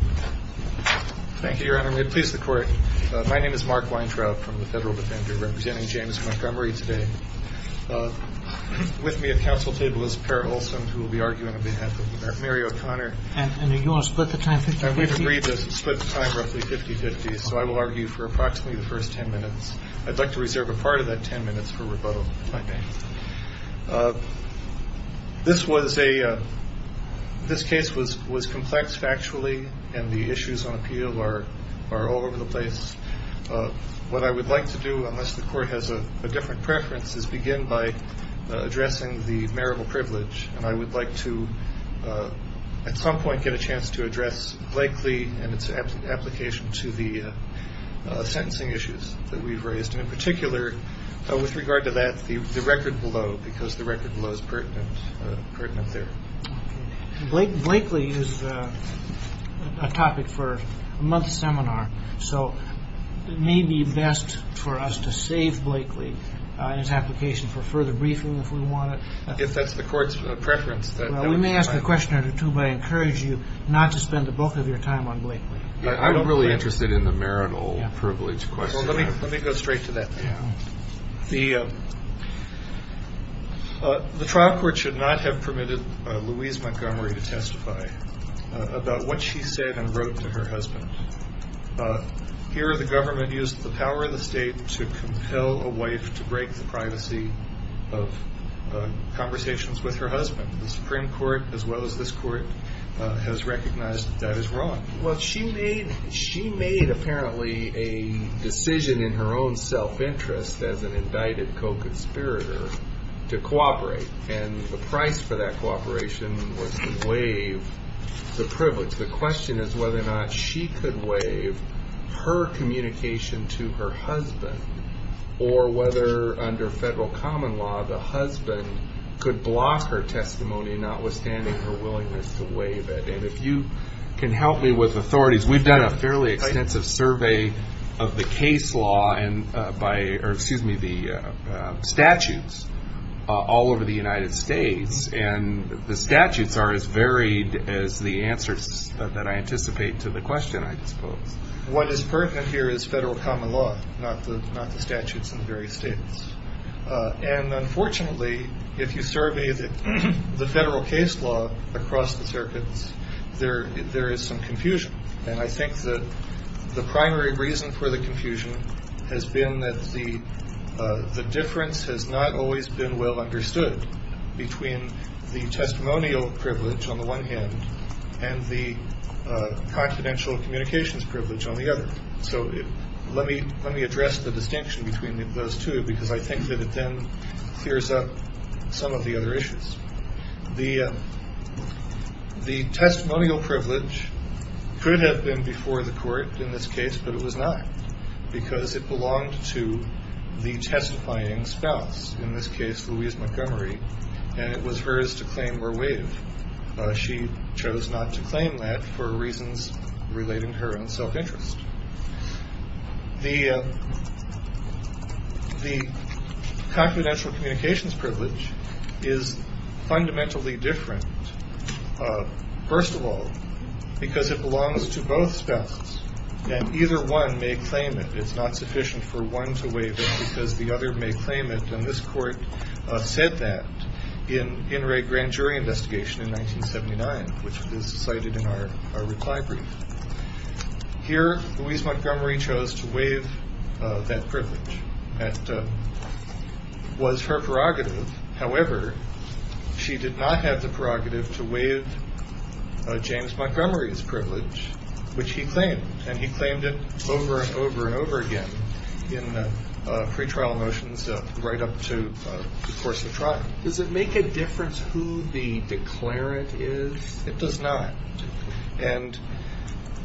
Thank you, your honor. May it please the court. My name is Mark Weintraub from the Federal Defender, representing James Montgomery today. With me at counsel table is Para Olsen, who will be arguing on behalf of Mary O'Connor. And you want to split the time 50-50? I would agree to split the time roughly 50-50, so I will argue for approximately the first 10 minutes. I'd like to reserve a part of that 10 minutes for rebuttal, if I may. This case was complex factually, and the issues on appeal are all over the place. What I would like to do, unless the court has a different preference, is begin by addressing the marital privilege. And I would like to, at some point, get a chance to address Blakely and its application to the sentencing issues that we've raised. In particular, with regard to that, the record below, because the record below is pertinent there. Blakely is a topic for a month's seminar, so it may be best for us to save Blakely and its application for further briefing, if we want. If that's the court's preference. We may ask a question or two, but I encourage you not to spend the bulk of your time on Blakely. I'm really interested in the marital privilege question. Let me go straight to that. The trial court should not have permitted Louise Montgomery to testify about what she said and wrote to her husband. Here, the government used the power of the state to compel a wife to break the privacy of conversations with her husband. The Supreme Court, as well as this court, has recognized that that is wrong. Well, she made, apparently, a decision in her own self-interest, as an indicted co-conspirator, to cooperate. And the price for that cooperation was to waive the privilege. The question is whether or not she could waive her communication to her husband, or whether, under federal common law, the husband could block her testimony, notwithstanding her willingness to waive it. If you can help me with authorities, we've done a fairly extensive survey of the case law, or excuse me, the statutes, all over the United States. And the statutes are as varied as the answers that I anticipate to the question, I suppose. What is pertinent here is federal common law, not the statutes in the various states. And unfortunately, if you survey the federal case law across the circuits, there is some confusion. And I think that the primary reason for the confusion has been that the difference has not always been well understood between the testimonial privilege, on the one hand, and the confidential communications privilege, on the other. So let me address the distinction between those two, because I think that it then clears up some of the other issues. The testimonial privilege could have been before the court in this case, but it was not, because it belonged to the testifying spouse, in this case, Louise Montgomery, and it was hers to claim or waive. She chose not to claim that for reasons relating to her own self-interest. The confidential communications privilege is fundamentally different, first of all, because it belongs to both spouses, and either one may claim it. It's not sufficient for one to waive it because the other may claim it, and this court said that in a grand jury investigation in 1979, which is cited in our reply brief. Here, Louise Montgomery chose to waive that privilege. That was her prerogative. However, she did not have the prerogative to waive James Montgomery's privilege, which he claimed, and he claimed it over and over and over again in pretrial motions right up to the course of trial. Does it make a difference who the declarant is? It does not, and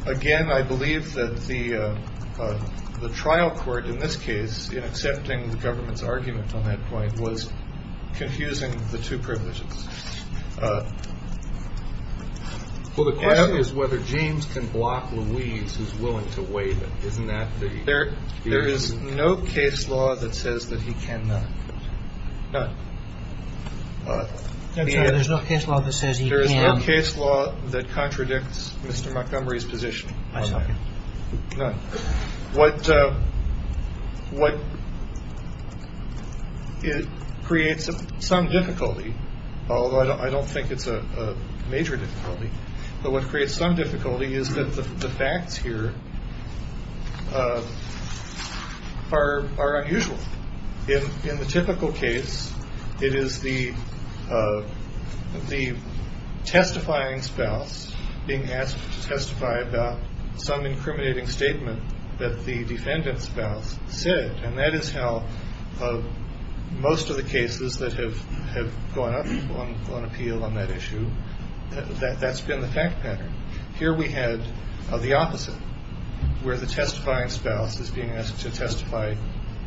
again, I believe that the trial court in this case, in accepting the government's argument on that point, was confusing the two privileges. Well, the question is whether James can block Louise who's willing to waive it. Isn't that the... There is no case law that says that he cannot. None. I'm sorry. There's no case law that says he can. There is no case law that contradicts Mr. Montgomery's position on that. None. What creates some difficulty, although I don't think it's a major difficulty, but what creates some difficulty is that the facts here are unusual. In the typical case, it is the testifying spouse being asked to testify about some incriminating statement that the defendant's spouse said, and that is how most of the cases that have gone up on appeal on that issue, that's been the fact pattern. Here we had the opposite, where the testifying spouse is being asked to testify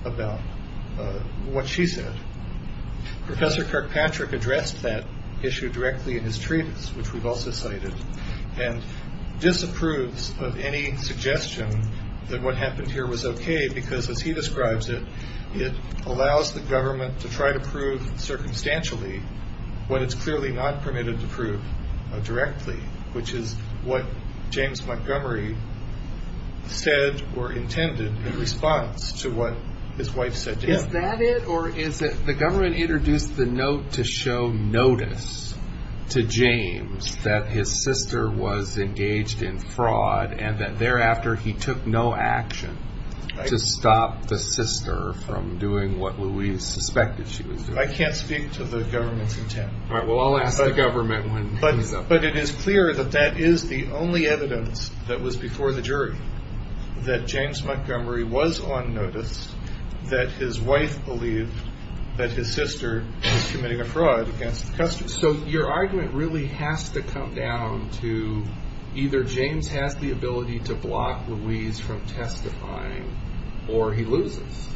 about what she said. Professor Kirkpatrick addressed that issue directly in his treatise, which we've also cited, and disapproves of any suggestion that what happened here was okay because, as he describes it, it allows the government to try to prove circumstantially what it's clearly not permitted to prove directly, which is what James Montgomery said or intended in response to what his wife said to him. Is that it, or is it the government introduced the note to show notice to James that his sister was engaged in fraud and that thereafter he took no action to stop the sister from doing what we suspected she was doing? I can't speak to the government's intent. All right, well, I'll ask the government when he's up. But it is clear that that is the only evidence that was before the jury, that James Montgomery was on notice, that his wife believed that his sister was committing a fraud against the custody. So your argument really has to come down to either James has the ability to block Louise from testifying or he loses.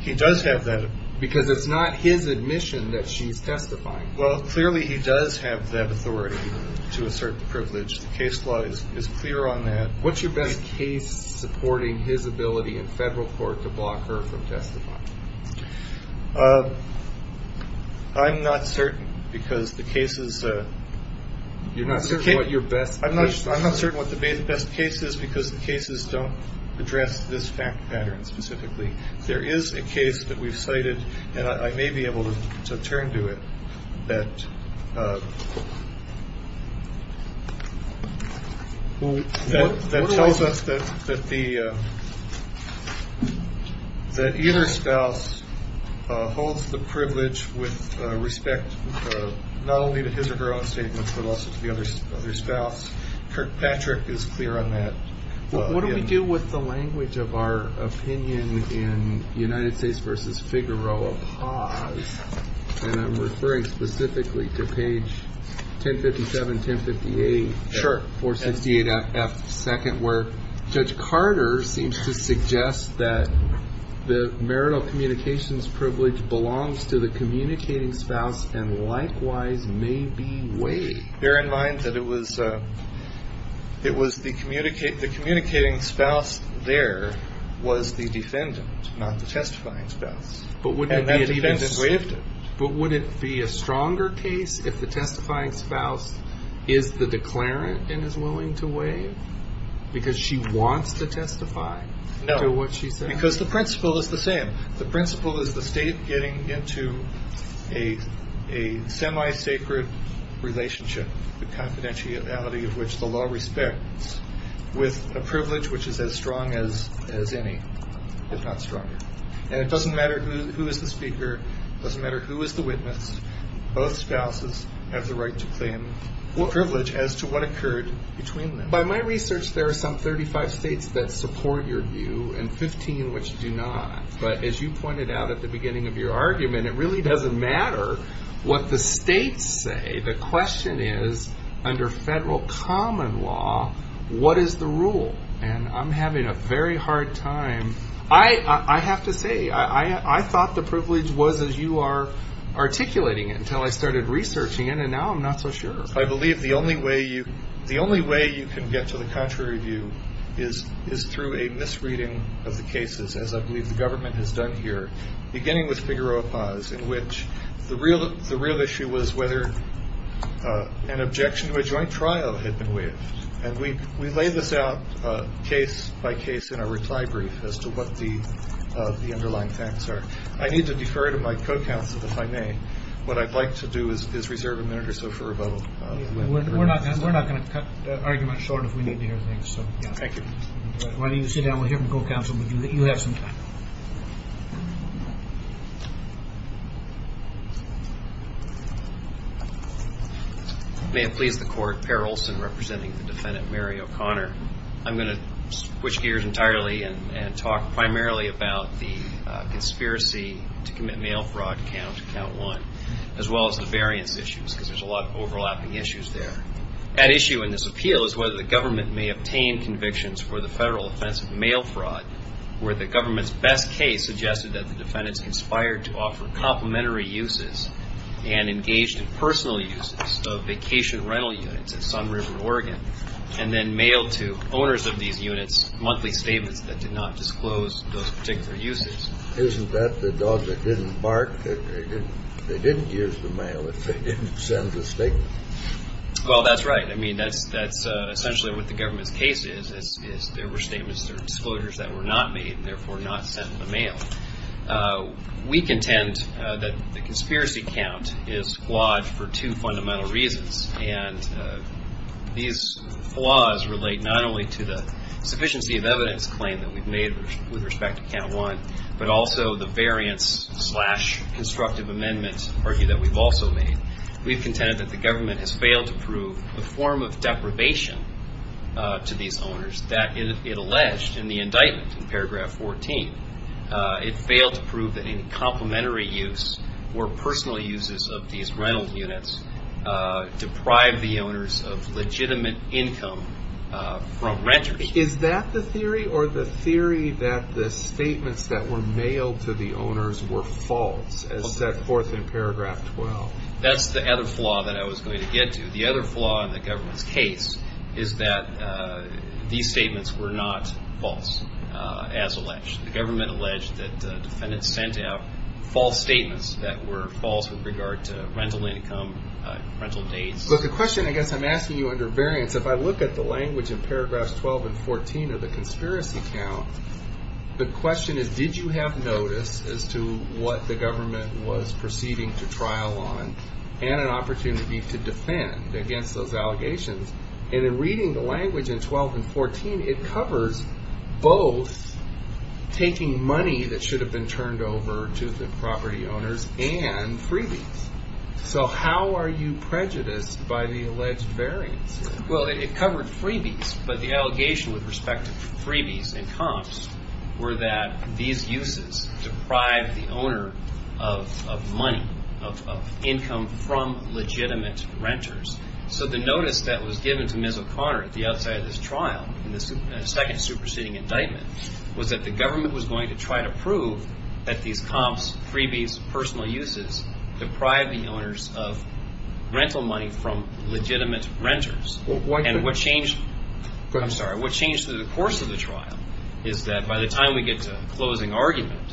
He does have that ability. Because it's not his admission that she's testifying. Well, clearly he does have that authority to assert the privilege. The case law is clear on that. What's your best case supporting his ability in federal court to block her from testifying? I'm not certain because the cases – You're not certain what your best case – I'm not certain what the best case is because the cases don't address this fact pattern specifically. There is a case that we've cited, and I may be able to turn to it, that tells us that either spouse holds the privilege with respect not only to his or her own statements, but also to the other spouse. Kirkpatrick is clear on that. What do we do with the language of our opinion in United States v. Figueroa? Pause. And I'm referring specifically to page 1057, 1058. Sure. 468F, second, where Judge Carter seems to suggest that the marital communications privilege belongs to the communicating spouse and likewise may be weighed. Bear in mind that it was the communicating spouse there was the defendant, not the testifying spouse. And that defendant waived it. But would it be a stronger case if the testifying spouse is the declarant and is willing to waive because she wants to testify to what she says? No, because the principle is the same. a semi-sacred relationship, the confidentiality of which the law respects, with a privilege which is as strong as any, if not stronger. And it doesn't matter who is the speaker. It doesn't matter who is the witness. Both spouses have the right to claim privilege as to what occurred between them. By my research, there are some 35 states that support your view and 15 which do not. But as you pointed out at the beginning of your argument, it really doesn't matter what the states say. The question is, under federal common law, what is the rule? And I'm having a very hard time. I have to say, I thought the privilege was as you are articulating it until I started researching it, and now I'm not so sure. I believe the only way you can get to the contrary view is through a misreading of the cases, as I believe the government has done here, beginning with Figueroa Paz, in which the real issue was whether an objection to a joint trial had been waived. And we laid this out case by case in our reply brief as to what the underlying facts are. I need to defer to my co-counsel, if I may. What I'd like to do is reserve a minute or so for rebuttal. We're not going to cut the argument short if we need to hear things. Thank you. Why don't you sit down with your co-counsel and let you have some time. May it please the Court, Perry Olson representing the defendant, Mary O'Connor. I'm going to switch gears entirely and talk primarily about the conspiracy to commit mail fraud count, count one, as well as the variance issues, because there's a lot of overlapping issues there. At issue in this appeal is whether the government may obtain convictions for the federal offense of mail fraud, where the government's best case suggested that the defendants conspired to offer complimentary uses and engaged in personal uses of vacation rental units at Sun River, Oregon, and then mailed to owners of these units monthly statements that did not disclose those particular uses. Isn't that the dog that didn't bark? They didn't use the mail if they didn't send the statement. Well, that's right. I mean, that's essentially what the government's case is, is there were statements or disclosures that were not made, therefore not sent in the mail. We contend that the conspiracy count is flawed for two fundamental reasons, and these flaws relate not only to the sufficiency of evidence claim that we've made with respect to count one, but also the variance slash constructive amendment argument that we've also made. We've contended that the government has failed to prove a form of deprivation to these owners, that it alleged in the indictment, in paragraph 14, it failed to prove that any complimentary use or personal uses of these rental units deprived the owners of legitimate income from renters. Is that the theory, or the theory that the statements that were mailed to the owners were false, as set forth in paragraph 12? That's the other flaw that I was going to get to. The other flaw in the government's case is that these statements were not false as alleged. The government alleged that defendants sent out false statements that were false with regard to rental income, rental dates. Look, the question I guess I'm asking you under variance, if I look at the language in paragraphs 12 and 14 of the conspiracy count, the question is, did you have notice as to what the government was proceeding to trial on, and an opportunity to defend against those allegations? And in reading the language in 12 and 14, it covers both taking money that should have been turned over to the property owners and freebies. So how are you prejudiced by the alleged variance? Well, it covered freebies, but the allegation with respect to freebies and comps were that these uses deprived the owner of money, of income from legitimate renters. So the notice that was given to Ms. O'Connor at the outset of this trial, in the second superseding indictment, was that the government was going to try to prove that these comps, freebies, personal uses, deprived the owners of rental money from legitimate renters. And what changed through the course of the trial is that by the time we get to the closing argument,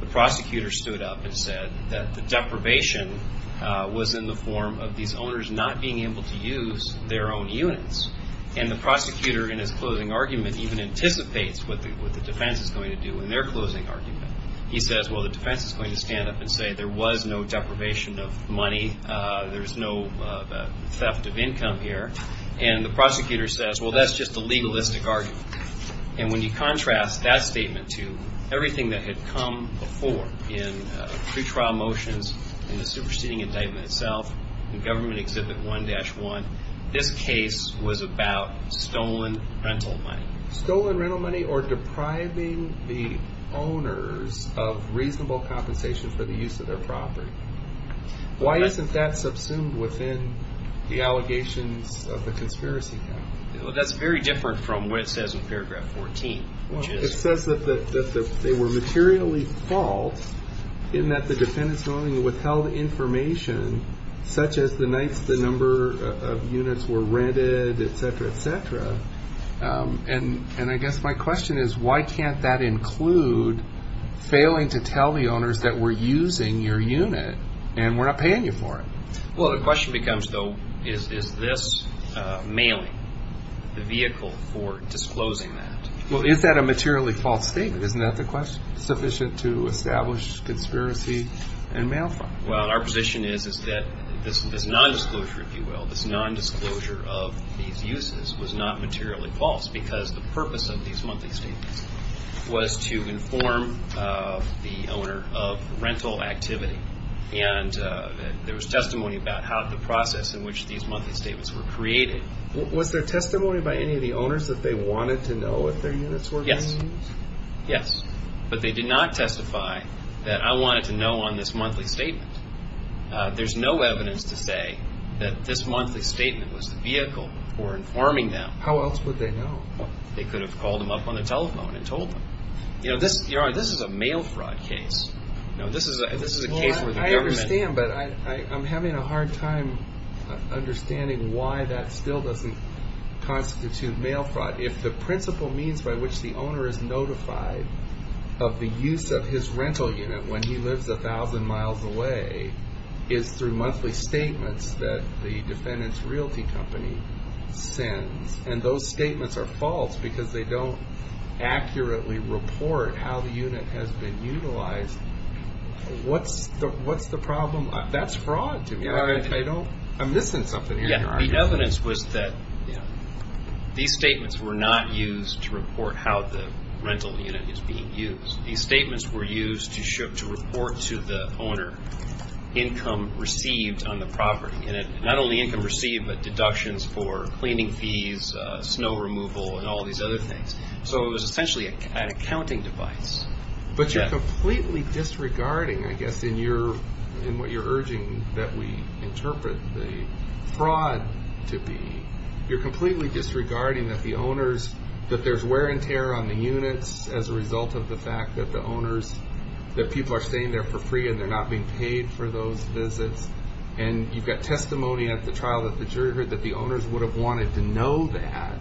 the prosecutor stood up and said that the deprivation was in the form of these owners not being able to use their own units. And the prosecutor in his closing argument even anticipates what the defense is going to do in their closing argument. He says, well, the defense is going to stand up and say there was no deprivation of money. There's no theft of income here. And the prosecutor says, well, that's just a legalistic argument. And when you contrast that statement to everything that had come before in pretrial motions, in the superseding indictment itself, in Government Exhibit 1-1, this case was about stolen rental money. Stolen rental money or depriving the owners of reasonable compensation for the use of their property. Why isn't that subsumed within the allegations of the conspiracy? Well, that's very different from what it says in paragraph 14. It says that they were materially at fault in that the defendants only withheld information such as the nights the number of units were rented, et cetera, et cetera. And I guess my question is why can't that include failing to tell the owners that we're using your unit and we're not paying you for it? Well, the question becomes, though, is this mailing the vehicle for disclosing that? Well, is that a materially false statement? Isn't that sufficient to establish conspiracy and mail fraud? Well, our position is that this nondisclosure, if you will, this nondisclosure of these uses was not materially false because the purpose of these monthly statements was to inform the owner of rental activity. And there was testimony about how the process in which these monthly statements were created. Was there testimony by any of the owners that they wanted to know if their units were being used? Yes. Yes. But they did not testify that I wanted to know on this monthly statement. There's no evidence to say that this monthly statement was the vehicle for informing them. How else would they know? They could have called them up on the telephone and told them. You know, this is a mail fraud case. This is a case where the government... I understand, but I'm having a hard time understanding why that still doesn't constitute mail fraud. But if the principal means by which the owner is notified of the use of his rental unit when he lives a thousand miles away is through monthly statements that the defendant's realty company sends, and those statements are false because they don't accurately report how the unit has been utilized, what's the problem? That's fraud to me. I'm missing something here in your argument. The evidence was that these statements were not used to report how the rental unit is being used. These statements were used to report to the owner income received on the property. And not only income received, but deductions for cleaning fees, snow removal, and all these other things. So it was essentially an accounting device. But you're completely disregarding, I guess, in what you're urging that we interpret the fraud to be. You're completely disregarding that the owners... that there's wear and tear on the units as a result of the fact that the owners... that people are staying there for free and they're not being paid for those visits. And you've got testimony at the trial that the owners would have wanted to know that.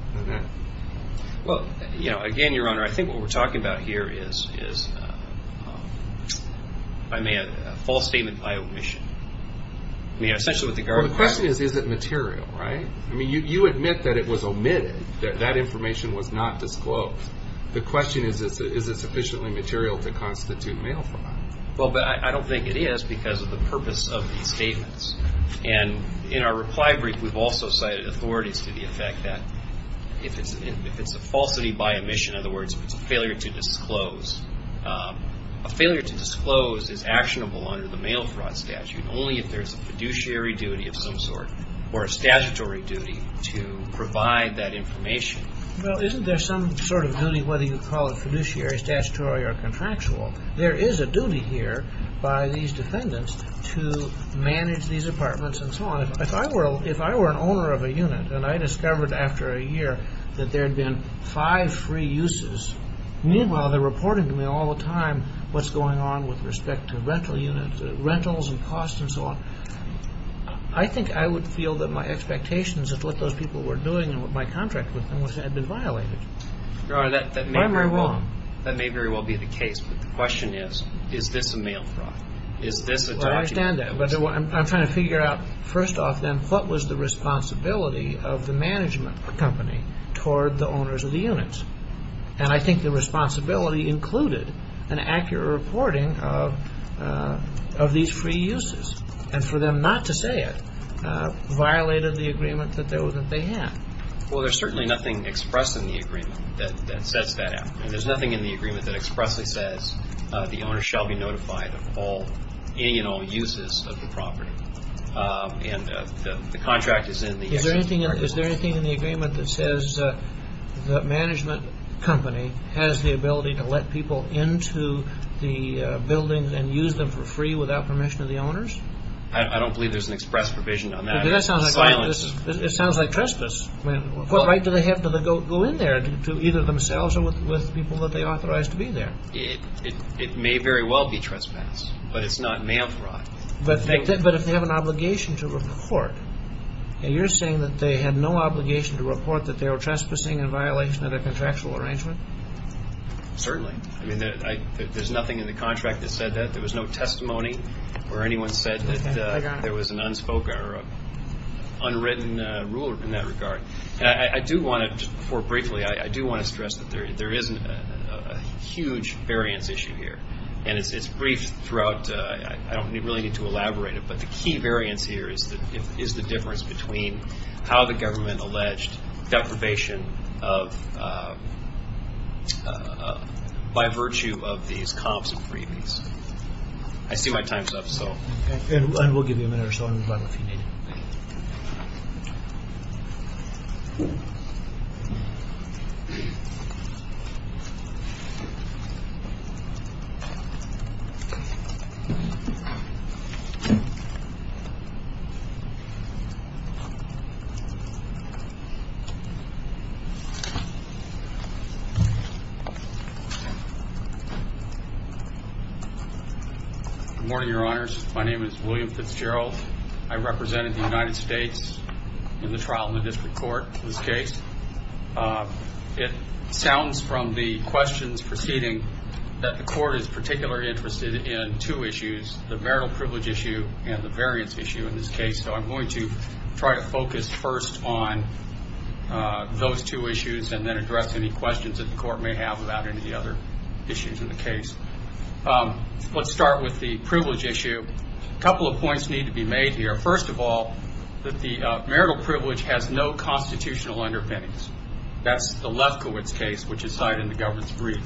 Again, Your Honor, I think what we're talking about here is a false statement by omission. The question is, is it material, right? You admit that it was omitted, that that information was not disclosed. The question is, is it sufficiently material to constitute mail fraud? I don't think it is because of the purpose of these statements. And in our reply brief, we've also cited authorities to the effect that if it's a falsity by omission, in other words, if it's a failure to disclose, a failure to disclose is actionable under the mail fraud statute only if there's a fiduciary duty of some sort or a statutory duty to provide that information. Well, isn't there some sort of duty, whether you call it fiduciary, statutory, or contractual? There is a duty here by these defendants to manage these apartments and so on. If I were an owner of a unit and I discovered after a year that there had been five free uses, meanwhile they're reporting to me all the time what's going on with respect to rental units, rentals and costs and so on, I think I would feel that my expectations of what those people were doing and what my contract with them had been violated. Your Honor, that may very well be the case, but the question is, is this a mail fraud? Is this a document? Well, I understand that, but I'm trying to figure out, first off then, what was the responsibility of the management company toward the owners of the units? And I think the responsibility included an accurate reporting of these free uses. And for them not to say it violated the agreement that they had. Well, there's certainly nothing expressed in the agreement that sets that out. There's nothing in the agreement that expressly says the owner shall be notified of any and all uses of the property. And the contract is in the agreement. Is there anything in the agreement that says the management company has the ability to let people into the buildings and use them for free without permission of the owners? I don't believe there's an express provision on that. It sounds like trespass. What right do they have to go in there to either themselves or with people that they authorize to be there? It may very well be trespass, but it's not mail fraud. But if they have an obligation to report, and you're saying that they had no obligation to report that they were trespassing in violation of their contractual arrangement? Certainly. I mean, there's nothing in the contract that said that. There was no testimony where anyone said that there was an unspoken or unwritten rule in that regard. And I do want to, just briefly, I do want to stress that there is a huge variance issue here. And it's brief throughout. I don't really need to elaborate it, but the key variance here is the difference between how the government alleged deprivation of, by virtue of these comps and freebies. I see my time's up, so. And we'll give you a minute or so to run if you need it. Good morning, Your Honors. My name is William Fitzgerald. I represented the United States in the trial in the district court in this case. It sounds from the questions proceeding that the court is particularly interested in two issues, the marital privilege issue and the variance issue in this case. So I'm going to try to focus first on those two issues and then address any questions that the court may have about any other issues in the case. Let's start with the privilege issue. A couple of points need to be made here. First of all, that the marital privilege has no constitutional underpinnings. That's the Lefkowitz case, which is cited in the government's brief.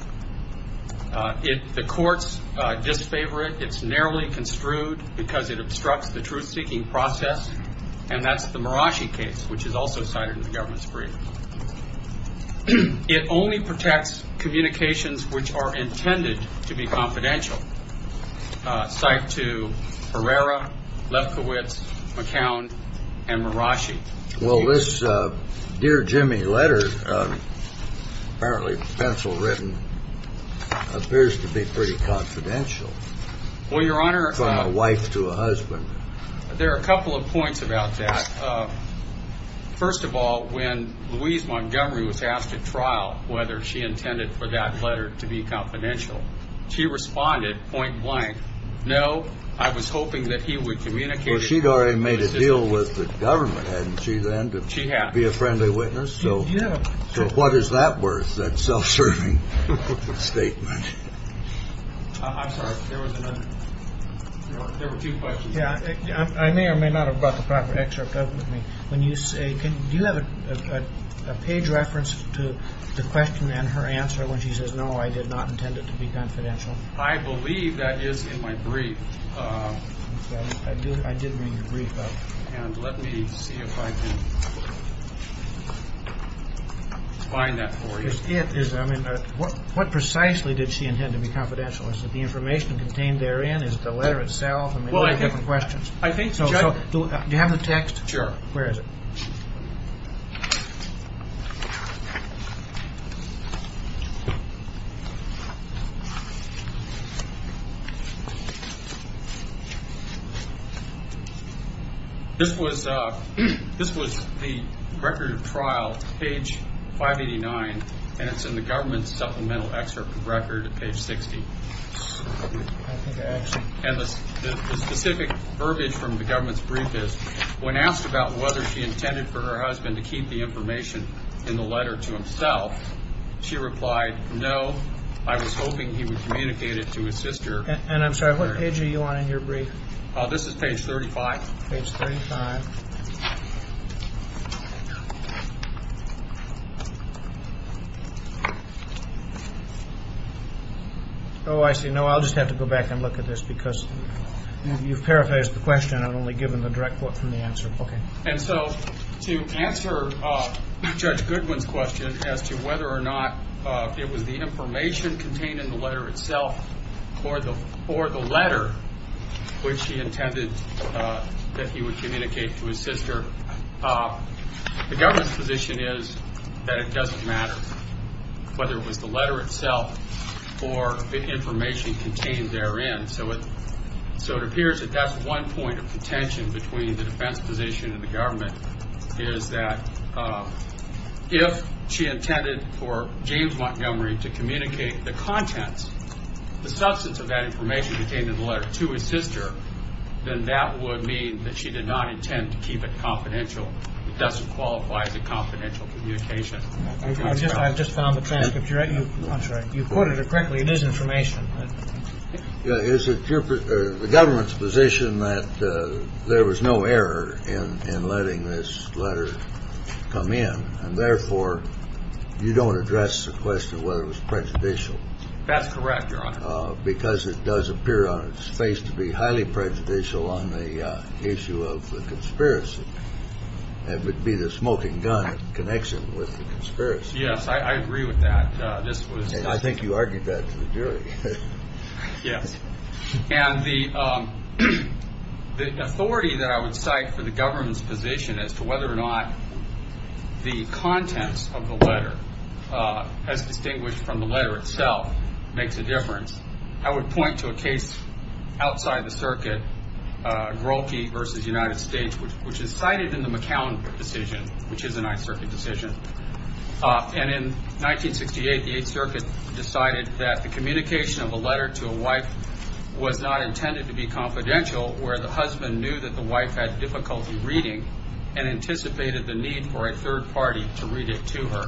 The courts disfavor it. It's narrowly construed because it obstructs the truth-seeking process. And that's the Marashi case, which is also cited in the government's brief. It only protects communications which are intended to be confidential. Cited to Herrera, Lefkowitz, McCown, and Marashi. Well, this Dear Jimmy letter, apparently pencil-written, appears to be pretty confidential. Well, Your Honor. From a wife to a husband. There are a couple of points about that. First of all, when Louise Montgomery was asked at trial whether she intended for that letter to be confidential, she responded point blank, no, I was hoping that he would communicate it. Well, she'd already made a deal with the government, hadn't she, then, to be a friendly witness. So what is that worth, that self-serving statement? I'm sorry, there was another. There were two questions. I may or may not have brought the proper excerpt up with me. When you say, do you have a page reference to the question and her answer when she says, no, I did not intend it to be confidential? I believe that is in my brief. I did bring your brief up. And let me see if I can find that for you. What precisely did she intend to be confidential? Is it the information contained therein? Is it the letter itself? I mean, there are different questions. Do you have the text? Sure. Where is it? This was the record of trial, page 589, and it's in the government supplemental excerpt record at page 60. And the specific verbiage from the government's brief is, when asked about whether she intended for her husband to keep the information in the letter to himself, she replied, no, I was hoping he would communicate it to his sister. And I'm sorry, what page are you on in your brief? This is page 35. Page 35. Oh, I see. No, I'll just have to go back and look at this You've paraphrased the question. I've only given the direct quote from the answer. Okay. And so to answer Judge Goodwin's question as to whether or not it was the information contained in the letter itself or the letter which he intended that he would communicate to his sister, the government's position is that it doesn't matter whether it was the letter itself or the information contained therein. So it appears that that's one point of contention between the defense position and the government, is that if she intended for James Montgomery to communicate the contents, the substance of that information contained in the letter to his sister, then that would mean that she did not intend to keep it confidential. It doesn't qualify as a confidential communication. I've just found the transcript. You quoted it correctly. It is information. Is it the government's position that there was no error in letting this letter come in and therefore you don't address the question of whether it was prejudicial? That's correct, Your Honor. Because it does appear on its face to be highly prejudicial on the issue of the conspiracy. It would be the smoking gun connection with the conspiracy. Yes, I agree with that. I think you argued that to the jury. Yes. And the authority that I would cite for the government's position as to whether or not the contents of the letter, as distinguished from the letter itself, makes a difference, I would point to a case outside the circuit, Grohlke v. United States, which is cited in the McCown decision, which is an I circuit decision. And in 1968, the 8th Circuit decided that the communication of a letter to a wife was not intended to be confidential, where the husband knew that the wife had difficulty reading and anticipated the need for a third party to read it to her.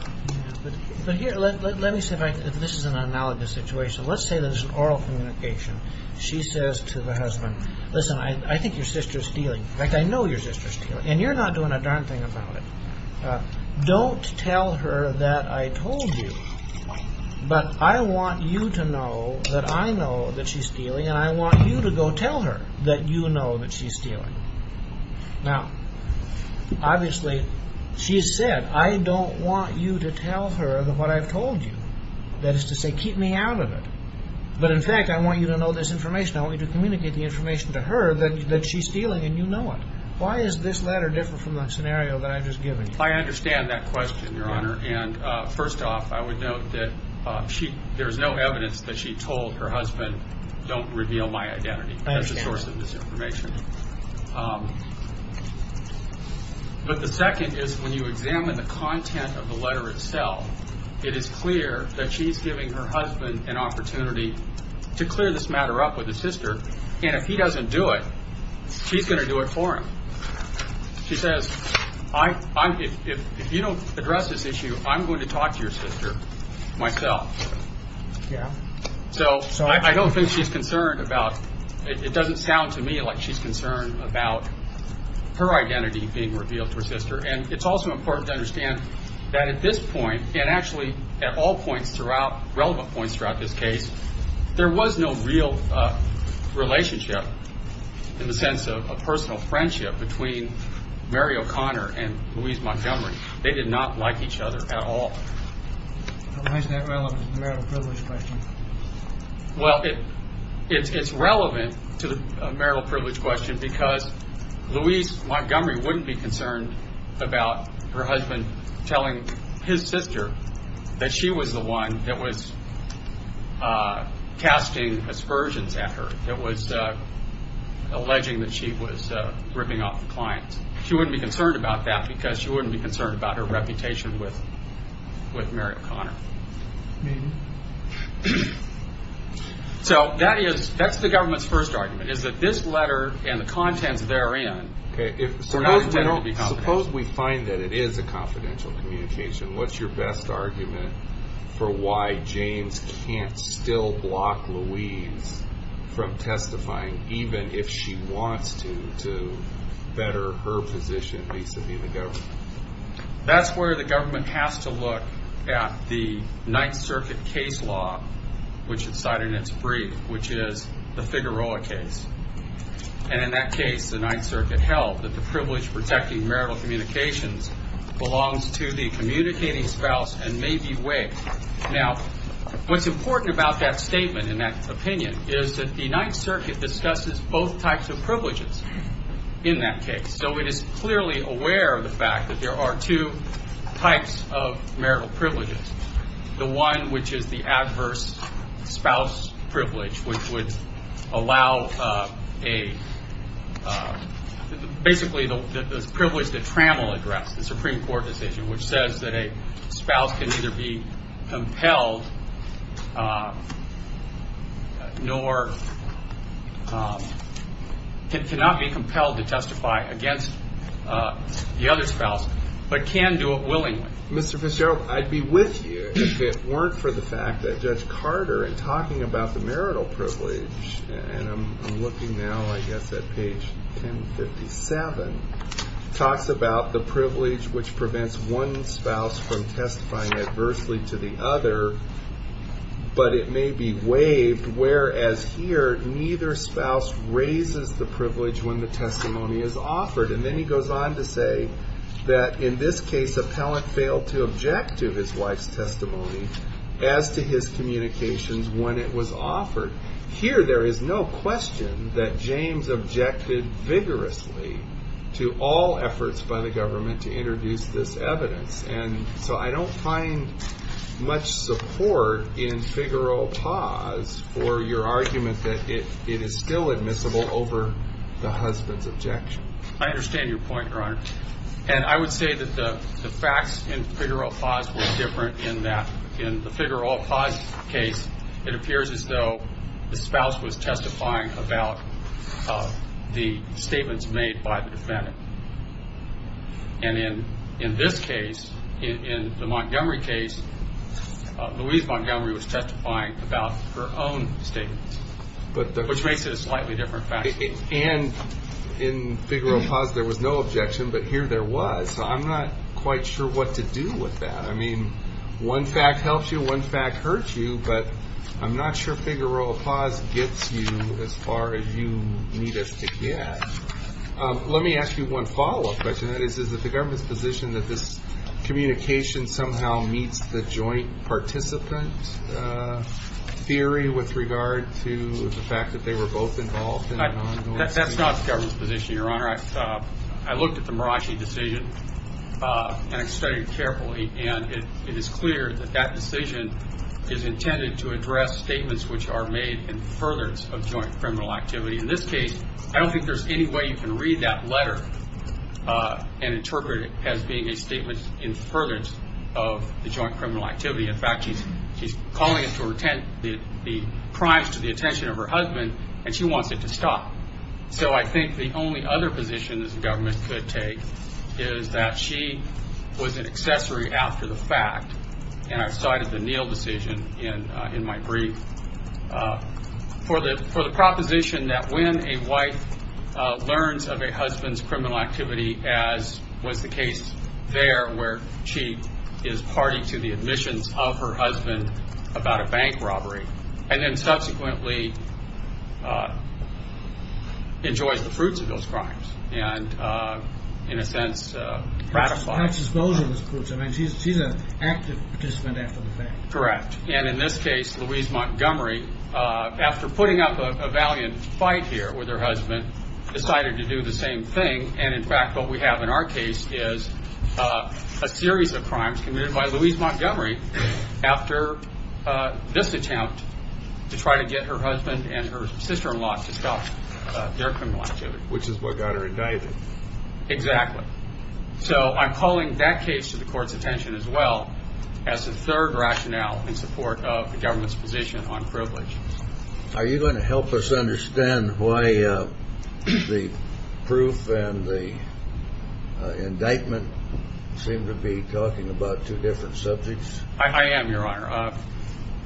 But here, let me say, this is an analogous situation. Let's say there's an oral communication. She says to the husband, listen, I think your sister's stealing. In fact, I know your sister's stealing. And you're not doing a darn thing about it. Don't tell her that I told you. But I want you to know that I know that she's stealing, and I want you to go tell her that you know that she's stealing. Now, obviously, she's said, I don't want you to tell her what I've told you. That is to say, keep me out of it. But in fact, I want you to know this information. I want you to communicate the information to her that she's stealing, and you know it. Why is this letter different from the scenario that I've just given you? I understand that question, Your Honor. And first off, I would note that there's no evidence that she told her husband, don't reveal my identity as a source of this information. But the second is when you examine the content of the letter itself, it is clear that she's giving her husband an opportunity to clear this matter up with his sister. And if he doesn't do it, she's going to do it for him. She says, if you don't address this issue, I'm going to talk to your sister myself. So I don't think she's concerned about, it doesn't sound to me like she's concerned about her identity being revealed to her sister. And it's also important to understand that at this point, and actually at all points throughout, relevant points throughout this case, there was no real relationship in the sense of a personal friendship between Mary O'Connor and Louise Montgomery. They did not like each other at all. Why is that relevant to the marital privilege question? Well, it's relevant to the marital privilege question because Louise Montgomery wouldn't be concerned about her husband telling his sister that she was the one that was casting aspersions at her, that was alleging that she was ripping off the client. She wouldn't be concerned about that because she wouldn't be concerned about her reputation with Mary O'Connor. So that's the government's first argument, is that this letter and the contents therein are not intended to be confidential. What's your best argument for why James can't still block Louise from testifying, even if she wants to, to better her position vis-a-vis the government? That's where the government has to look at the Ninth Circuit case law, which it cited in its brief, which is the Figueroa case. And in that case, the Ninth Circuit held that the privilege protecting marital communications belongs to the communicating spouse and may be waived. Now, what's important about that statement and that opinion is that the Ninth Circuit discusses both types of privileges in that case. So it is clearly aware of the fact that there are two types of marital privileges, the one which is the adverse spouse privilege, which would allow basically the privilege that Trammell addressed, the Supreme Court decision, which says that a spouse can neither be compelled nor cannot be compelled to testify against the other spouse, but can do it willingly. Mr. Fitzgerald, I'd be with you if it weren't for the fact that Judge Carter, in talking about the marital privilege, and I'm looking now, I guess, at page 1057, talks about the privilege which prevents one spouse from testifying adversely to the other, but it may be waived, whereas here, neither spouse raises the privilege when the testimony is offered. And then he goes on to say that in this case, to object to his wife's testimony as to his communications when it was offered. Here, there is no question that James objected vigorously to all efforts by the government to introduce this evidence. And so I don't find much support in figural pause for your argument that it is still admissible over the husband's objection. And I would say that the facts in figural pause were different in that in the figural pause case, it appears as though the spouse was testifying about the statements made by the defendant. And in this case, in the Montgomery case, Louise Montgomery was testifying about her own statements, which makes it a slightly different fact. And in figural pause, there was no objection, but here there was. So I'm not quite sure what to do with that. I mean, one fact helps you, one fact hurts you, but I'm not sure figural pause gets you as far as you need us to get. Let me ask you one follow-up question. That is, is it the government's position that this communication somehow meets the joint participant theory with regard to the fact that they were both involved? That's not the government's position, Your Honor. I looked at the Marashi decision and I studied it carefully, and it is clear that that decision is intended to address statements which are made in furtherance of joint criminal activity. In this case, I don't think there's any way you can read that letter and interpret it as being a statement in furtherance of the joint criminal activity. In fact, she's calling it to the attention of her husband, and she wants it to stop. So I think the only other position this government could take is that she was an accessory after the fact, and I cited the Neal decision in my brief. For the proposition that when a wife learns of a husband's criminal activity, as was the case there where she is party to the admissions of her husband about a bank robbery, and then subsequently enjoys the fruits of those crimes and, in a sense, ratifies them. She's an active participant after the fact. Correct. And in this case, Louise Montgomery, after putting up a valiant fight here with her husband, decided to do the same thing, and, in fact, what we have in our case is a series of crimes committed by Louise Montgomery after this attempt to try to get her husband and her sister-in-law to stop their criminal activity. Which is what got her indicted. Exactly. So I'm calling that case to the court's attention as well as the third rationale in support of the government's position on privilege. Are you going to help us understand why the proof and the indictment seem to be talking about two different subjects? I am, Your Honor.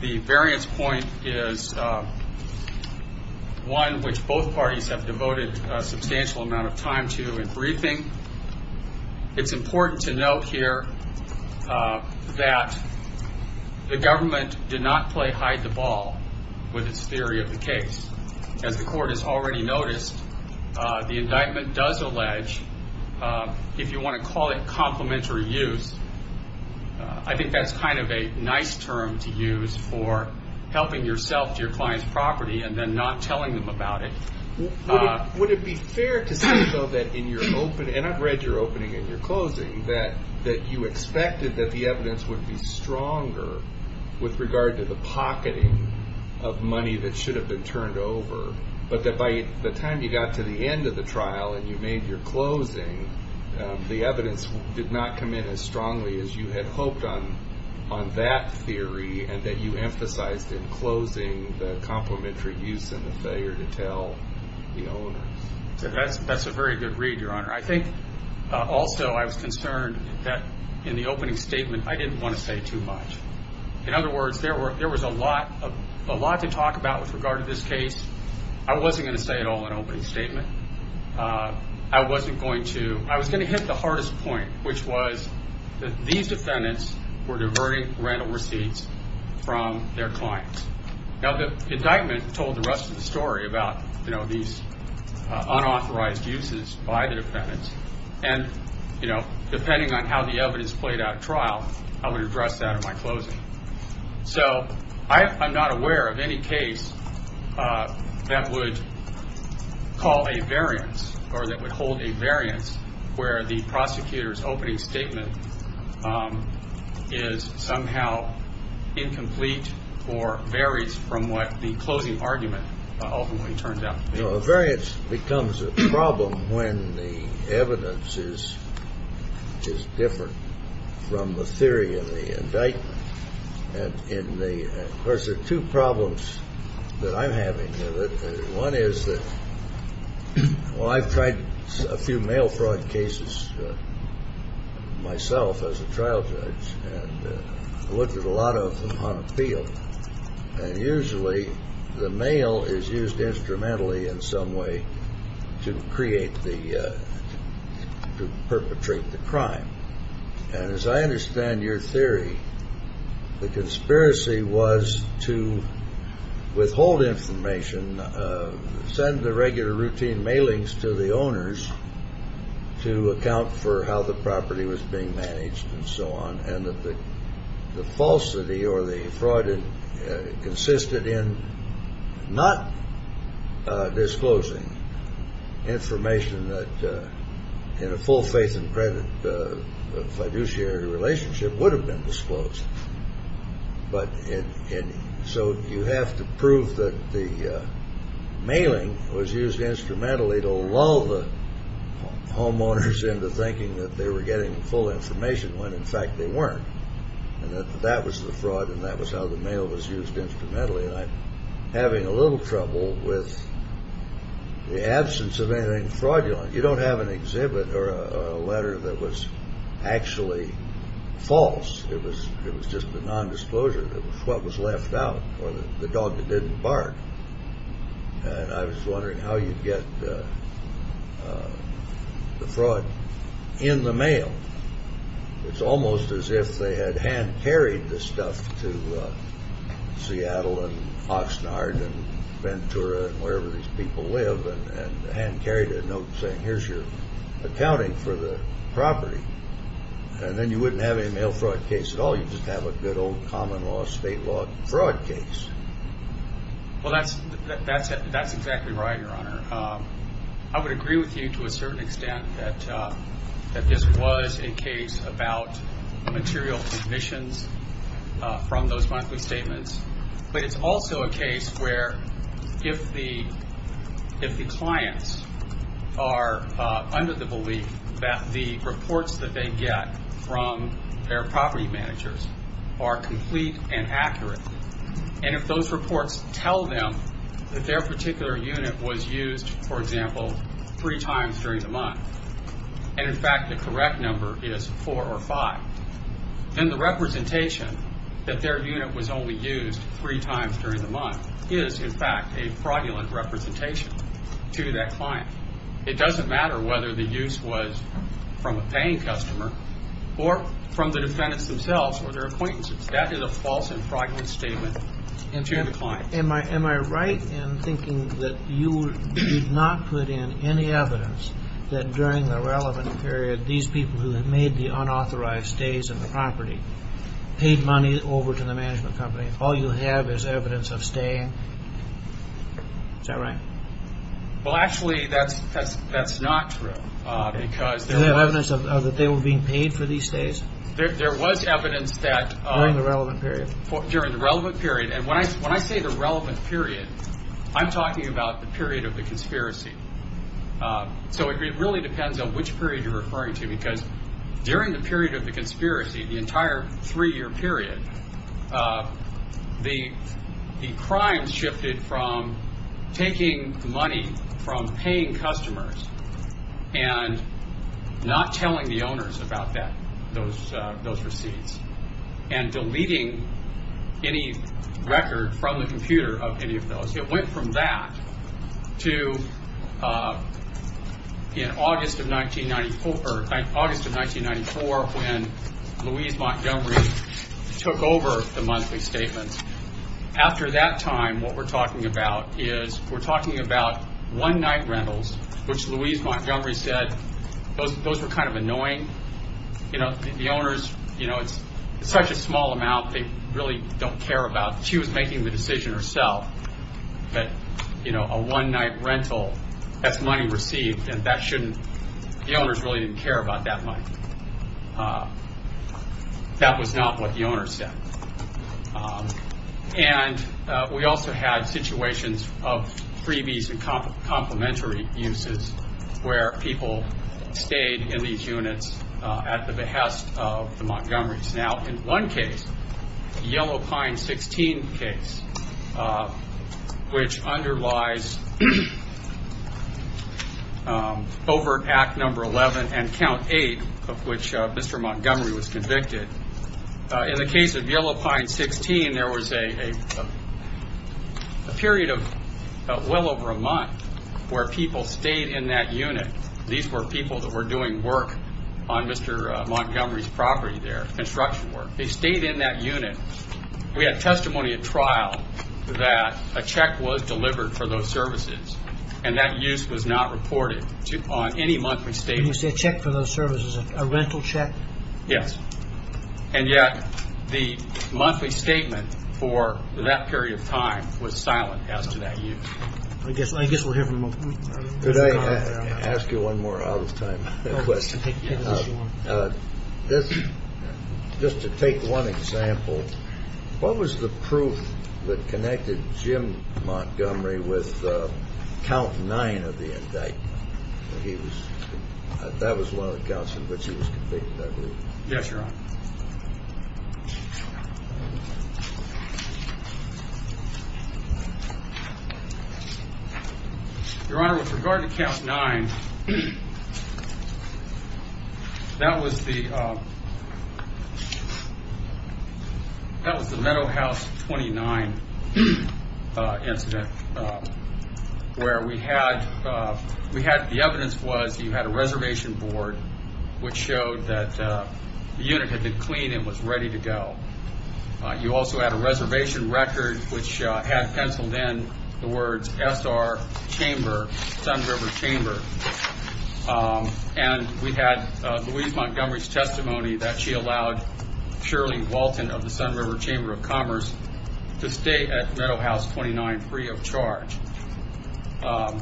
The variance point is one which both parties have devoted a substantial amount of time to in briefing. It's important to note here that the government did not play hide-the-ball with its theory of the case. As the court has already noticed, the indictment does allege, if you want to call it complementary use, I think that's kind of a nice term to use for helping yourself to your client's property and then not telling them about it. Would it be fair to say, though, that in your opening, and I've read your opening and your closing, that you expected that the evidence would be stronger with regard to the pocketing of money that should have been turned over, but that by the time you got to the end of the trial and you made your closing, the evidence did not come in as strongly as you had hoped on that theory and that you emphasized in closing the complementary use and the failure to tell the owners? That's a very good read, Your Honor. I think also I was concerned that in the opening statement I didn't want to say too much. In other words, there was a lot to talk about with regard to this case. I wasn't going to say it all in the opening statement. I was going to hit the hardest point, which was that these defendants were diverting rental receipts from their clients. Now, the indictment told the rest of the story about these unauthorized uses by the defendants, and depending on how the evidence played out at trial, I would address that in my closing. So I'm not aware of any case that would call a variance or that would hold a variance where the prosecutor's opening statement is somehow incomplete or varies from what the closing argument ultimately turns out to be. A variance becomes a problem when the evidence is different from the theory in the indictment. Of course, there are two problems that I'm having with it. One is that, well, I've tried a few mail fraud cases myself as a trial judge, and I looked at a lot of them on appeal, and usually the mail is used instrumentally in some way to perpetrate the crime. And as I understand your theory, the conspiracy was to withhold information, send the regular routine mailings to the owners to account for how the property was being managed and so on, and that the falsity or the fraud consisted in not disclosing information that, in a full faith and credit fiduciary relationship, would have been disclosed. So you have to prove that the mailing was used instrumentally to lull the homeowners into thinking that they were getting full information when, in fact, they weren't, and that that was the fraud and that was how the mail was used instrumentally. And I'm having a little trouble with the absence of anything fraudulent. You don't have an exhibit or a letter that was actually false. It was just a nondisclosure. It was what was left out or the dog that didn't bark. And I was wondering how you'd get the fraud in the mail. It's almost as if they had hand-carried the stuff to Seattle and Oxnard and Ventura and wherever these people live and hand-carried a note saying, here's your accounting for the property. And then you wouldn't have any mail fraud case at all. You'd just have a good old common law, state law fraud case. Well, that's exactly right, Your Honor. I would agree with you to a certain extent that this was a case about material submissions from those monthly statements, but it's also a case where if the clients are under the belief that the reports that they get from their property managers are complete and accurate and if those reports tell them that their particular unit was used, for example, three times during the month and, in fact, the correct number is four or five, then the representation that their unit was only used three times during the month is, in fact, a fraudulent representation to that client. It doesn't matter whether the use was from a paying customer or from the defendants themselves or their acquaintances. That is a false and fraudulent statement in front of the client. Am I right in thinking that you did not put in any evidence that during the relevant period these people who had made the unauthorized stays of the property paid money over to the management company? All you have is evidence of staying? Is that right? Well, actually, that's not true. Is there evidence that they were being paid for these stays? There was evidence that during the relevant period, and when I say the relevant period, I'm talking about the period of the conspiracy. So it really depends on which period you're referring to because during the period of the conspiracy, the entire three-year period, the crimes shifted from taking money from paying customers and not telling the owners about those receipts and deleting any record from the computer of any of those. It went from that to in August of 1994, when Louise Montgomery took over the monthly statements. After that time, what we're talking about is we're talking about one-night rentals, which Louise Montgomery said, those were kind of annoying. The owners, it's such a small amount they really don't care about. She was making the decision herself that a one-night rental, that's money received, and the owners really didn't care about that money. That was not what the owners said. And we also had situations of freebies and complimentary uses where people stayed in these units at the behest of the Montgomerys. Now, in one case, the Yellow Pine 16 case, which underlies Overt Act No. 11 and Count 8, of which Mr. Montgomery was convicted, in the case of Yellow Pine 16, there was a period of well over a month where people stayed in that unit. These were people that were doing work on Mr. Montgomery's property there, construction work. They stayed in that unit. We had testimony at trial that a check was delivered for those services and that use was not reported on any monthly statement. Did you say a check for those services, a rental check? Yes. And yet the monthly statement for that period of time was silent as to that use. I guess we're here for the moment. Could I ask you one more out-of-time question? Just to take one example, what was the proof that connected Jim Montgomery with Count 9 of the indictment? That was one of the counts in which he was convicted, I believe. Yes, Your Honor. Your Honor, with regard to Count 9, that was the Meadowhouse 29 incident where the evidence was you had a reservation board which showed that the unit had been cleaned and was ready to go. You also had a reservation record which had penciled in the words, SR Chamber, Sun River Chamber. And we had Louise Montgomery's testimony that she allowed Shirley Walton of the Sun River Chamber of Commerce to stay at Meadowhouse 29 free of charge. The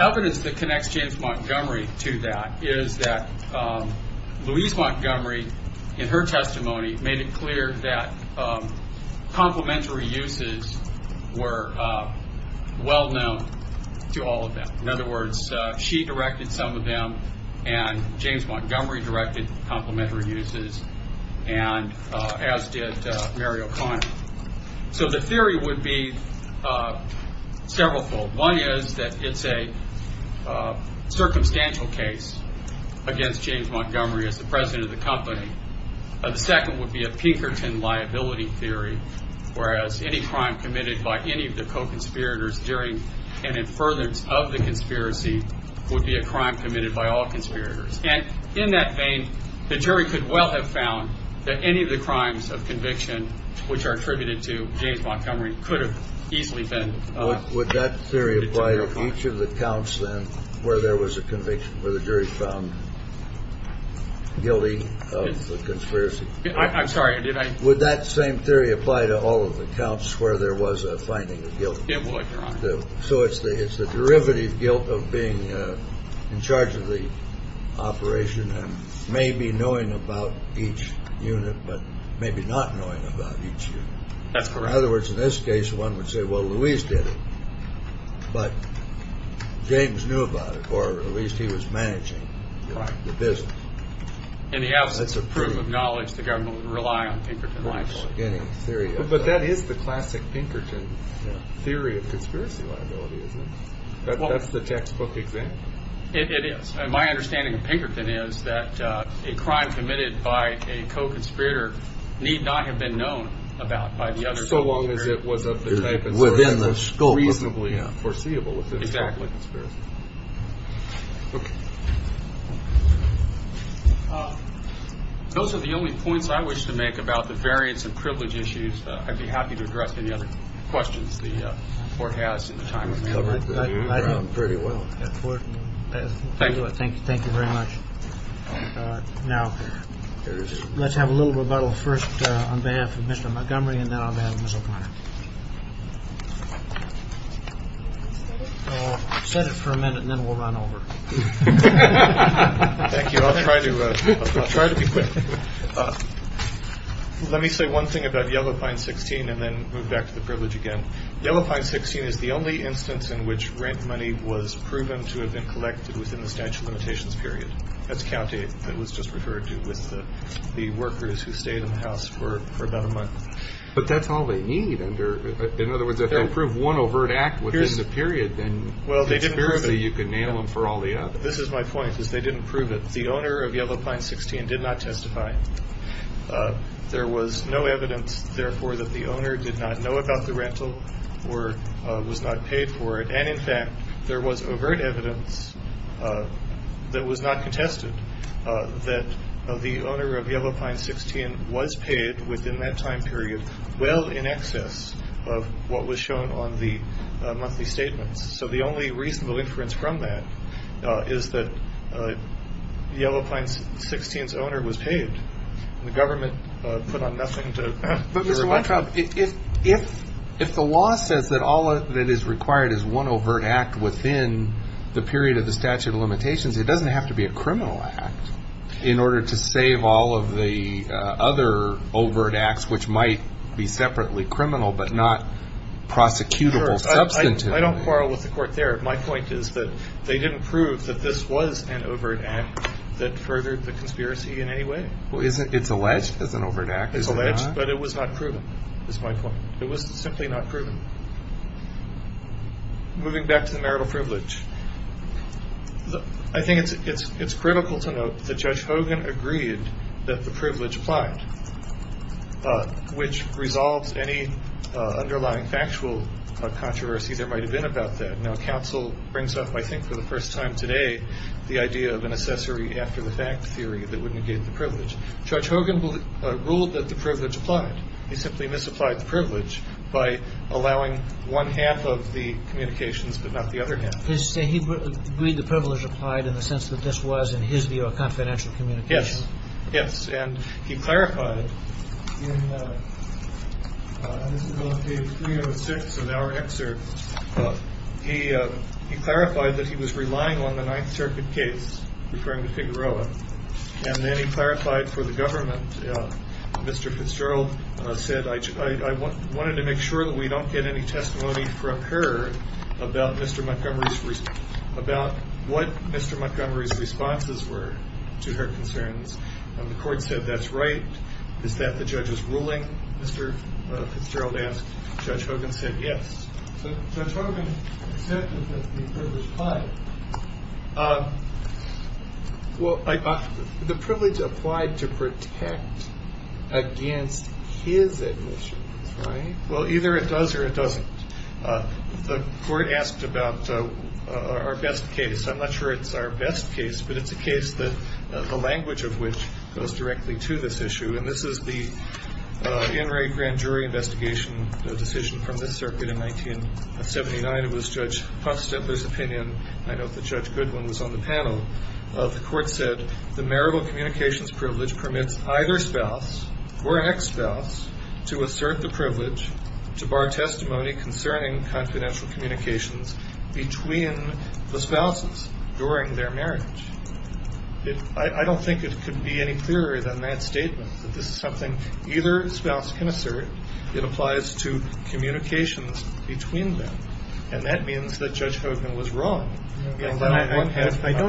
evidence that connects James Montgomery to that is that Louise Montgomery, in her testimony, made it clear that complementary uses were well known to all of them. In other words, she directed some of them and James Montgomery directed complementary uses, as did Mary O'Connor. So the theory would be several-fold. One is that it's a circumstantial case against James Montgomery as the president of the company. The second would be a Pinkerton liability theory, whereas any crime committed by any of the co-conspirators during an inference of the conspiracy would be a crime committed by all conspirators. And in that vein, the jury could well have found that any of the crimes of conviction, which are attributed to James Montgomery, could have easily been determined. Would that theory apply to each of the counts, then, where there was a conviction, where the jury found guilty of the conspiracy? I'm sorry, did I? Would that same theory apply to all of the counts where there was a finding of guilt? It would, Your Honor. So it's the derivative guilt of being in charge of the operation and maybe knowing about each unit, but maybe not knowing about each unit. That's correct. In other words, in this case, one would say, well, Louise did it, but James knew about it, or at least he was managing the business. In the absence of proof of knowledge, the government would rely on Pinkerton liability. But that is the classic Pinkerton theory of conspiracy liability, isn't it? That's the textbook example. It is. My understanding of Pinkerton is that a crime committed by a co-conspirator need not have been known about by the other. So long as it was of the type within the scope. Reasonably foreseeable. Exactly. Okay. Those are the only points I wish to make about the variance and privilege issues. I'd be happy to address any other questions the Court has in the time remaining. Pretty well. Thank you. Thank you very much. Now, let's have a little rebuttal first on behalf of Mr. Montgomery. Set it for a minute and then we'll run over. Thank you. I'll try to try to be quick. Let me say one thing about Yellow Pine 16 and then move back to the privilege again. Yellow Pine 16 is the only instance in which rent money was proven to have been collected within the statute of limitations period. That's county. That was just referred to with the workers who stayed in the house for about a month. But that's all they need. In other words, if they prove one overt act within the period, then you can nail them for all the others. This is my point, is they didn't prove it. The owner of Yellow Pine 16 did not testify. There was no evidence, therefore, that the owner did not know about the rental or was not paid for it. And, in fact, there was overt evidence that was not contested, that the owner of Yellow Pine 16 was paid within that time period well in excess of what was shown on the monthly statements. So the only reasonable inference from that is that Yellow Pine 16's owner was paid, and the government put on nothing to remind them. But, Mr. Weintraub, if the law says that all that is required is one overt act within the period of the statute of limitations, it doesn't have to be a criminal act in order to save all of the other overt acts, which might be separately criminal but not prosecutable substantively. I don't quarrel with the court there. My point is that they didn't prove that this was an overt act that furthered the conspiracy in any way. Well, it's alleged as an overt act, is it not? It's alleged, but it was not proven, is my point. It was simply not proven. Moving back to the marital privilege, I think it's critical to note that Judge Hogan agreed that the privilege applied, which resolves any underlying factual controversy there might have been about that. Now, counsel brings up, I think for the first time today, the idea of an accessory after-the-fact theory that would negate the privilege. Judge Hogan ruled that the privilege applied. He simply misapplied the privilege by allowing one half of the communications but not the other half. He agreed the privilege applied in the sense that this was, in his view, a confidential communication. Yes. Yes. And he clarified in this is on page 306 in our excerpt, he clarified that he was relying on the Ninth Circuit case, referring to Figueroa, and then he clarified for the government, Mr. Fitzgerald said, I wanted to make sure that we don't get any testimony from her about Mr. Montgomery's, about what Mr. Montgomery's responses were to her concerns. The court said that's right. Is that the judge's ruling, Mr. Fitzgerald asked. Judge Hogan said yes. Judge Hogan accepted that the privilege applied. Well, the privilege applied to protect against his admissions, right? Well, either it does or it doesn't. The court asked about our best case. I'm not sure it's our best case, but it's a case that the language of which goes directly to this issue, and this is the in-rate grand jury investigation decision from the circuit in 1979. It was Judge Pufstedler's opinion. I note that Judge Goodwin was on the panel. The court said the marital communications privilege permits either spouse or ex-spouse to assert the privilege to bar testimony concerning confidential communications between the spouses during their marriage. I don't think it could be any clearer than that statement, that this is something either spouse can assert. It applies to communications between them, and that means that Judge Hogan was wrong. I don't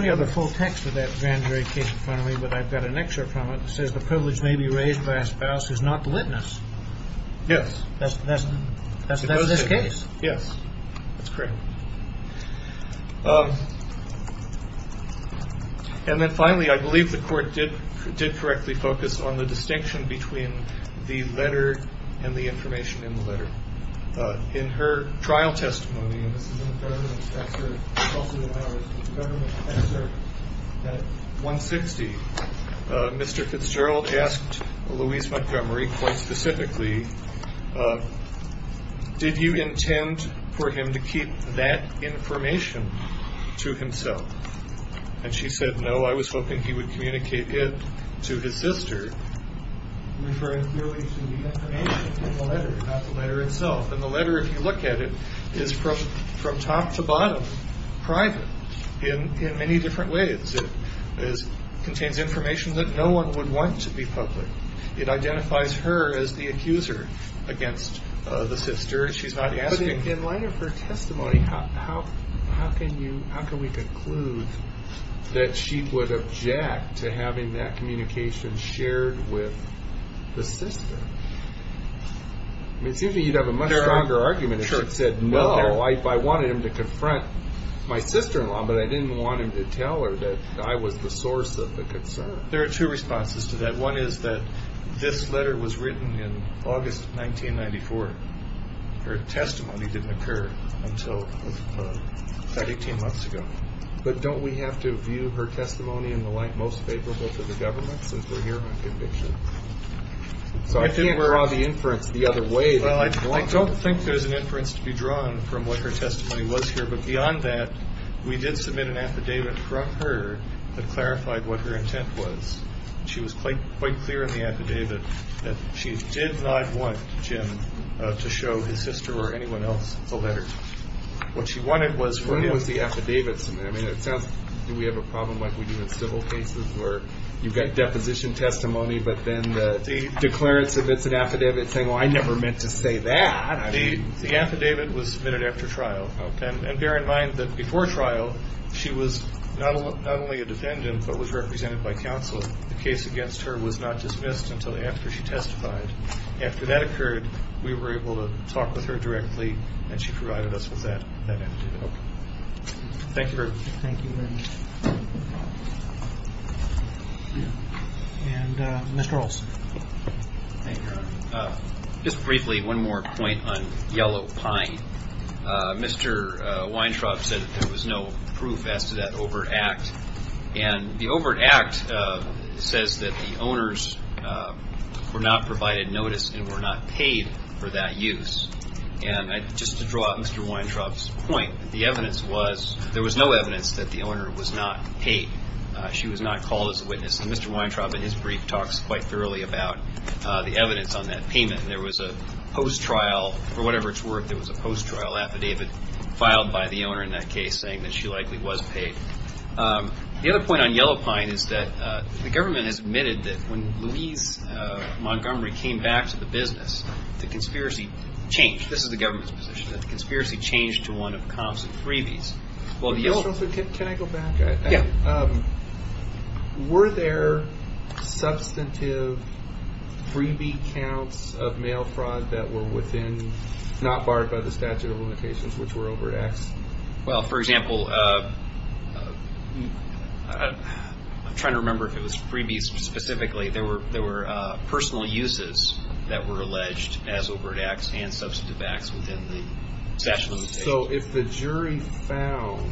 have the full text of that grand jury case in front of me, but I've got an excerpt from it. It says the privilege may be raised by a spouse who is not the witness. Yes. That's this case? Yes. That's correct. And then finally, I believe the court did correctly focus on the distinction between the letter and the information in the letter. In her trial testimony, and this is in the government excerpt, also in ours, that 160, Mr. Fitzgerald asked Louise Montgomery quite specifically, did you intend for him to keep that information to himself? And she said, no, I was hoping he would communicate it to his sister, referring clearly to the information in the letter, not the letter itself. And the letter, if you look at it, is from top to bottom private in many different ways. It contains information that no one would want to be public. It identifies her as the accuser against the sister. But in light of her testimony, how can we conclude that she would object to having that communication shared with the sister? It seems to me you'd have a much stronger argument if she said, no, I wanted him to confront my sister-in-law, but I didn't want him to tell her that I was the source of the concern. There are two responses to that. One is that this letter was written in August 1994. Her testimony didn't occur until about 18 months ago. But don't we have to view her testimony in the light most favorable to the government since we're here on conviction? So I can't draw the inference the other way. Well, I don't think there's an inference to be drawn from what her testimony was here. But beyond that, we did submit an affidavit from her that clarified what her intent was. She was quite clear in the affidavit that she did not want Jim to show his sister or anyone else the letter. What she wanted was for him. When was the affidavit submitted? Do we have a problem like we do in civil cases where you've got deposition testimony, but then the declarants of it's an affidavit saying, well, I never meant to say that. The affidavit was submitted after trial. And bear in mind that before trial, she was not only a defendant but was represented by counsel. The case against her was not dismissed until after she testified. After that occurred, we were able to talk with her directly, and she provided us with that affidavit. Thank you very much. Thank you very much. And Mr. Olson. Just briefly, one more point on yellow pine. Mr. Weintraub said there was no proof as to that overt act. And the overt act says that the owners were not provided notice and were not paid for that use. And just to draw out Mr. Weintraub's point, the evidence was there was no evidence that the owner was not paid. She was not called as a witness. And Mr. Weintraub in his brief talks quite thoroughly about the evidence on that payment. There was a post-trial or whatever it's worth, there was a post-trial affidavit filed by the owner in that case saying that she likely was paid. The other point on yellow pine is that the government has admitted that when Louise Montgomery came back to the business, the conspiracy changed. This is the government's position, that the conspiracy changed to one of comps and freebies. Mr. Olson, can I go back? Yeah. Were there substantive freebie counts of mail fraud that were within, not barred by the statute of limitations, which were overt acts? Well, for example, I'm trying to remember if it was freebies specifically. There were personal uses that were alleged as overt acts and substantive acts within the statute of limitations. So if the jury found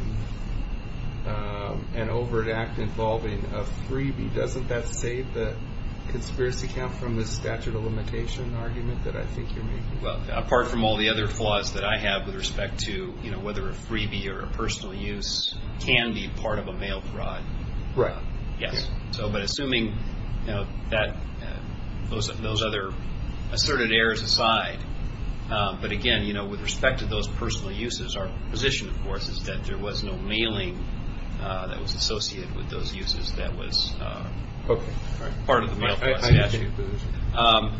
an overt act involving a freebie, doesn't that save the conspiracy count from the statute of limitation argument that I think you're making? Well, apart from all the other flaws that I have with respect to whether a freebie or a personal use can be part of a mail fraud. Right. Yes. But assuming those other asserted errors aside. But again, with respect to those personal uses, our position, of course, is that there was no mailing that was associated with those uses that was part of the mail fraud statute.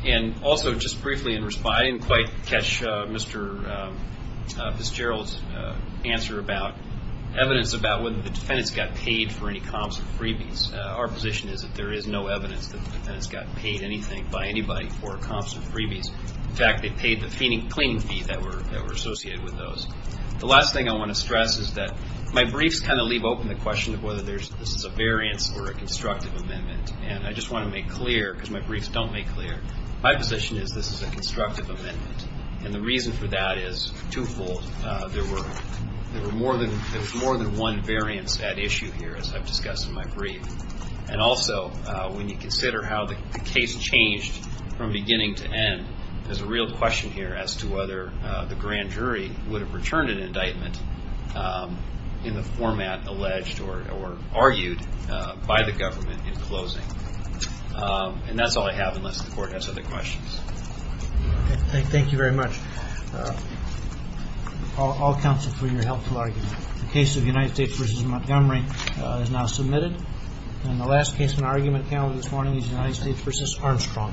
And also, just briefly in response, I didn't quite catch Mr. Fitzgerald's answer about evidence about whether the defendants got paid for any comps or freebies. Our position is that there is no evidence that the defendants got paid anything by anybody for comps or freebies. In fact, they paid the cleaning fee that were associated with those. The last thing I want to stress is that my briefs kind of leave open the question of whether this is a variance or a constructive amendment. And I just want to make clear, because my briefs don't make clear, my position is this is a constructive amendment. And the reason for that is twofold. There were more than one variance at issue here, as I've discussed in my brief. And also, when you consider how the case changed from beginning to end, there's a real question here as to whether the grand jury would have returned an indictment in the format alleged or argued by the government in closing. And that's all I have unless the Court has other questions. Thank you very much, all counsel, for your helpful argument. The case of United States v. Montgomery is now submitted. And the last case in our argument panel this morning is United States v. Armstrong. Thank you.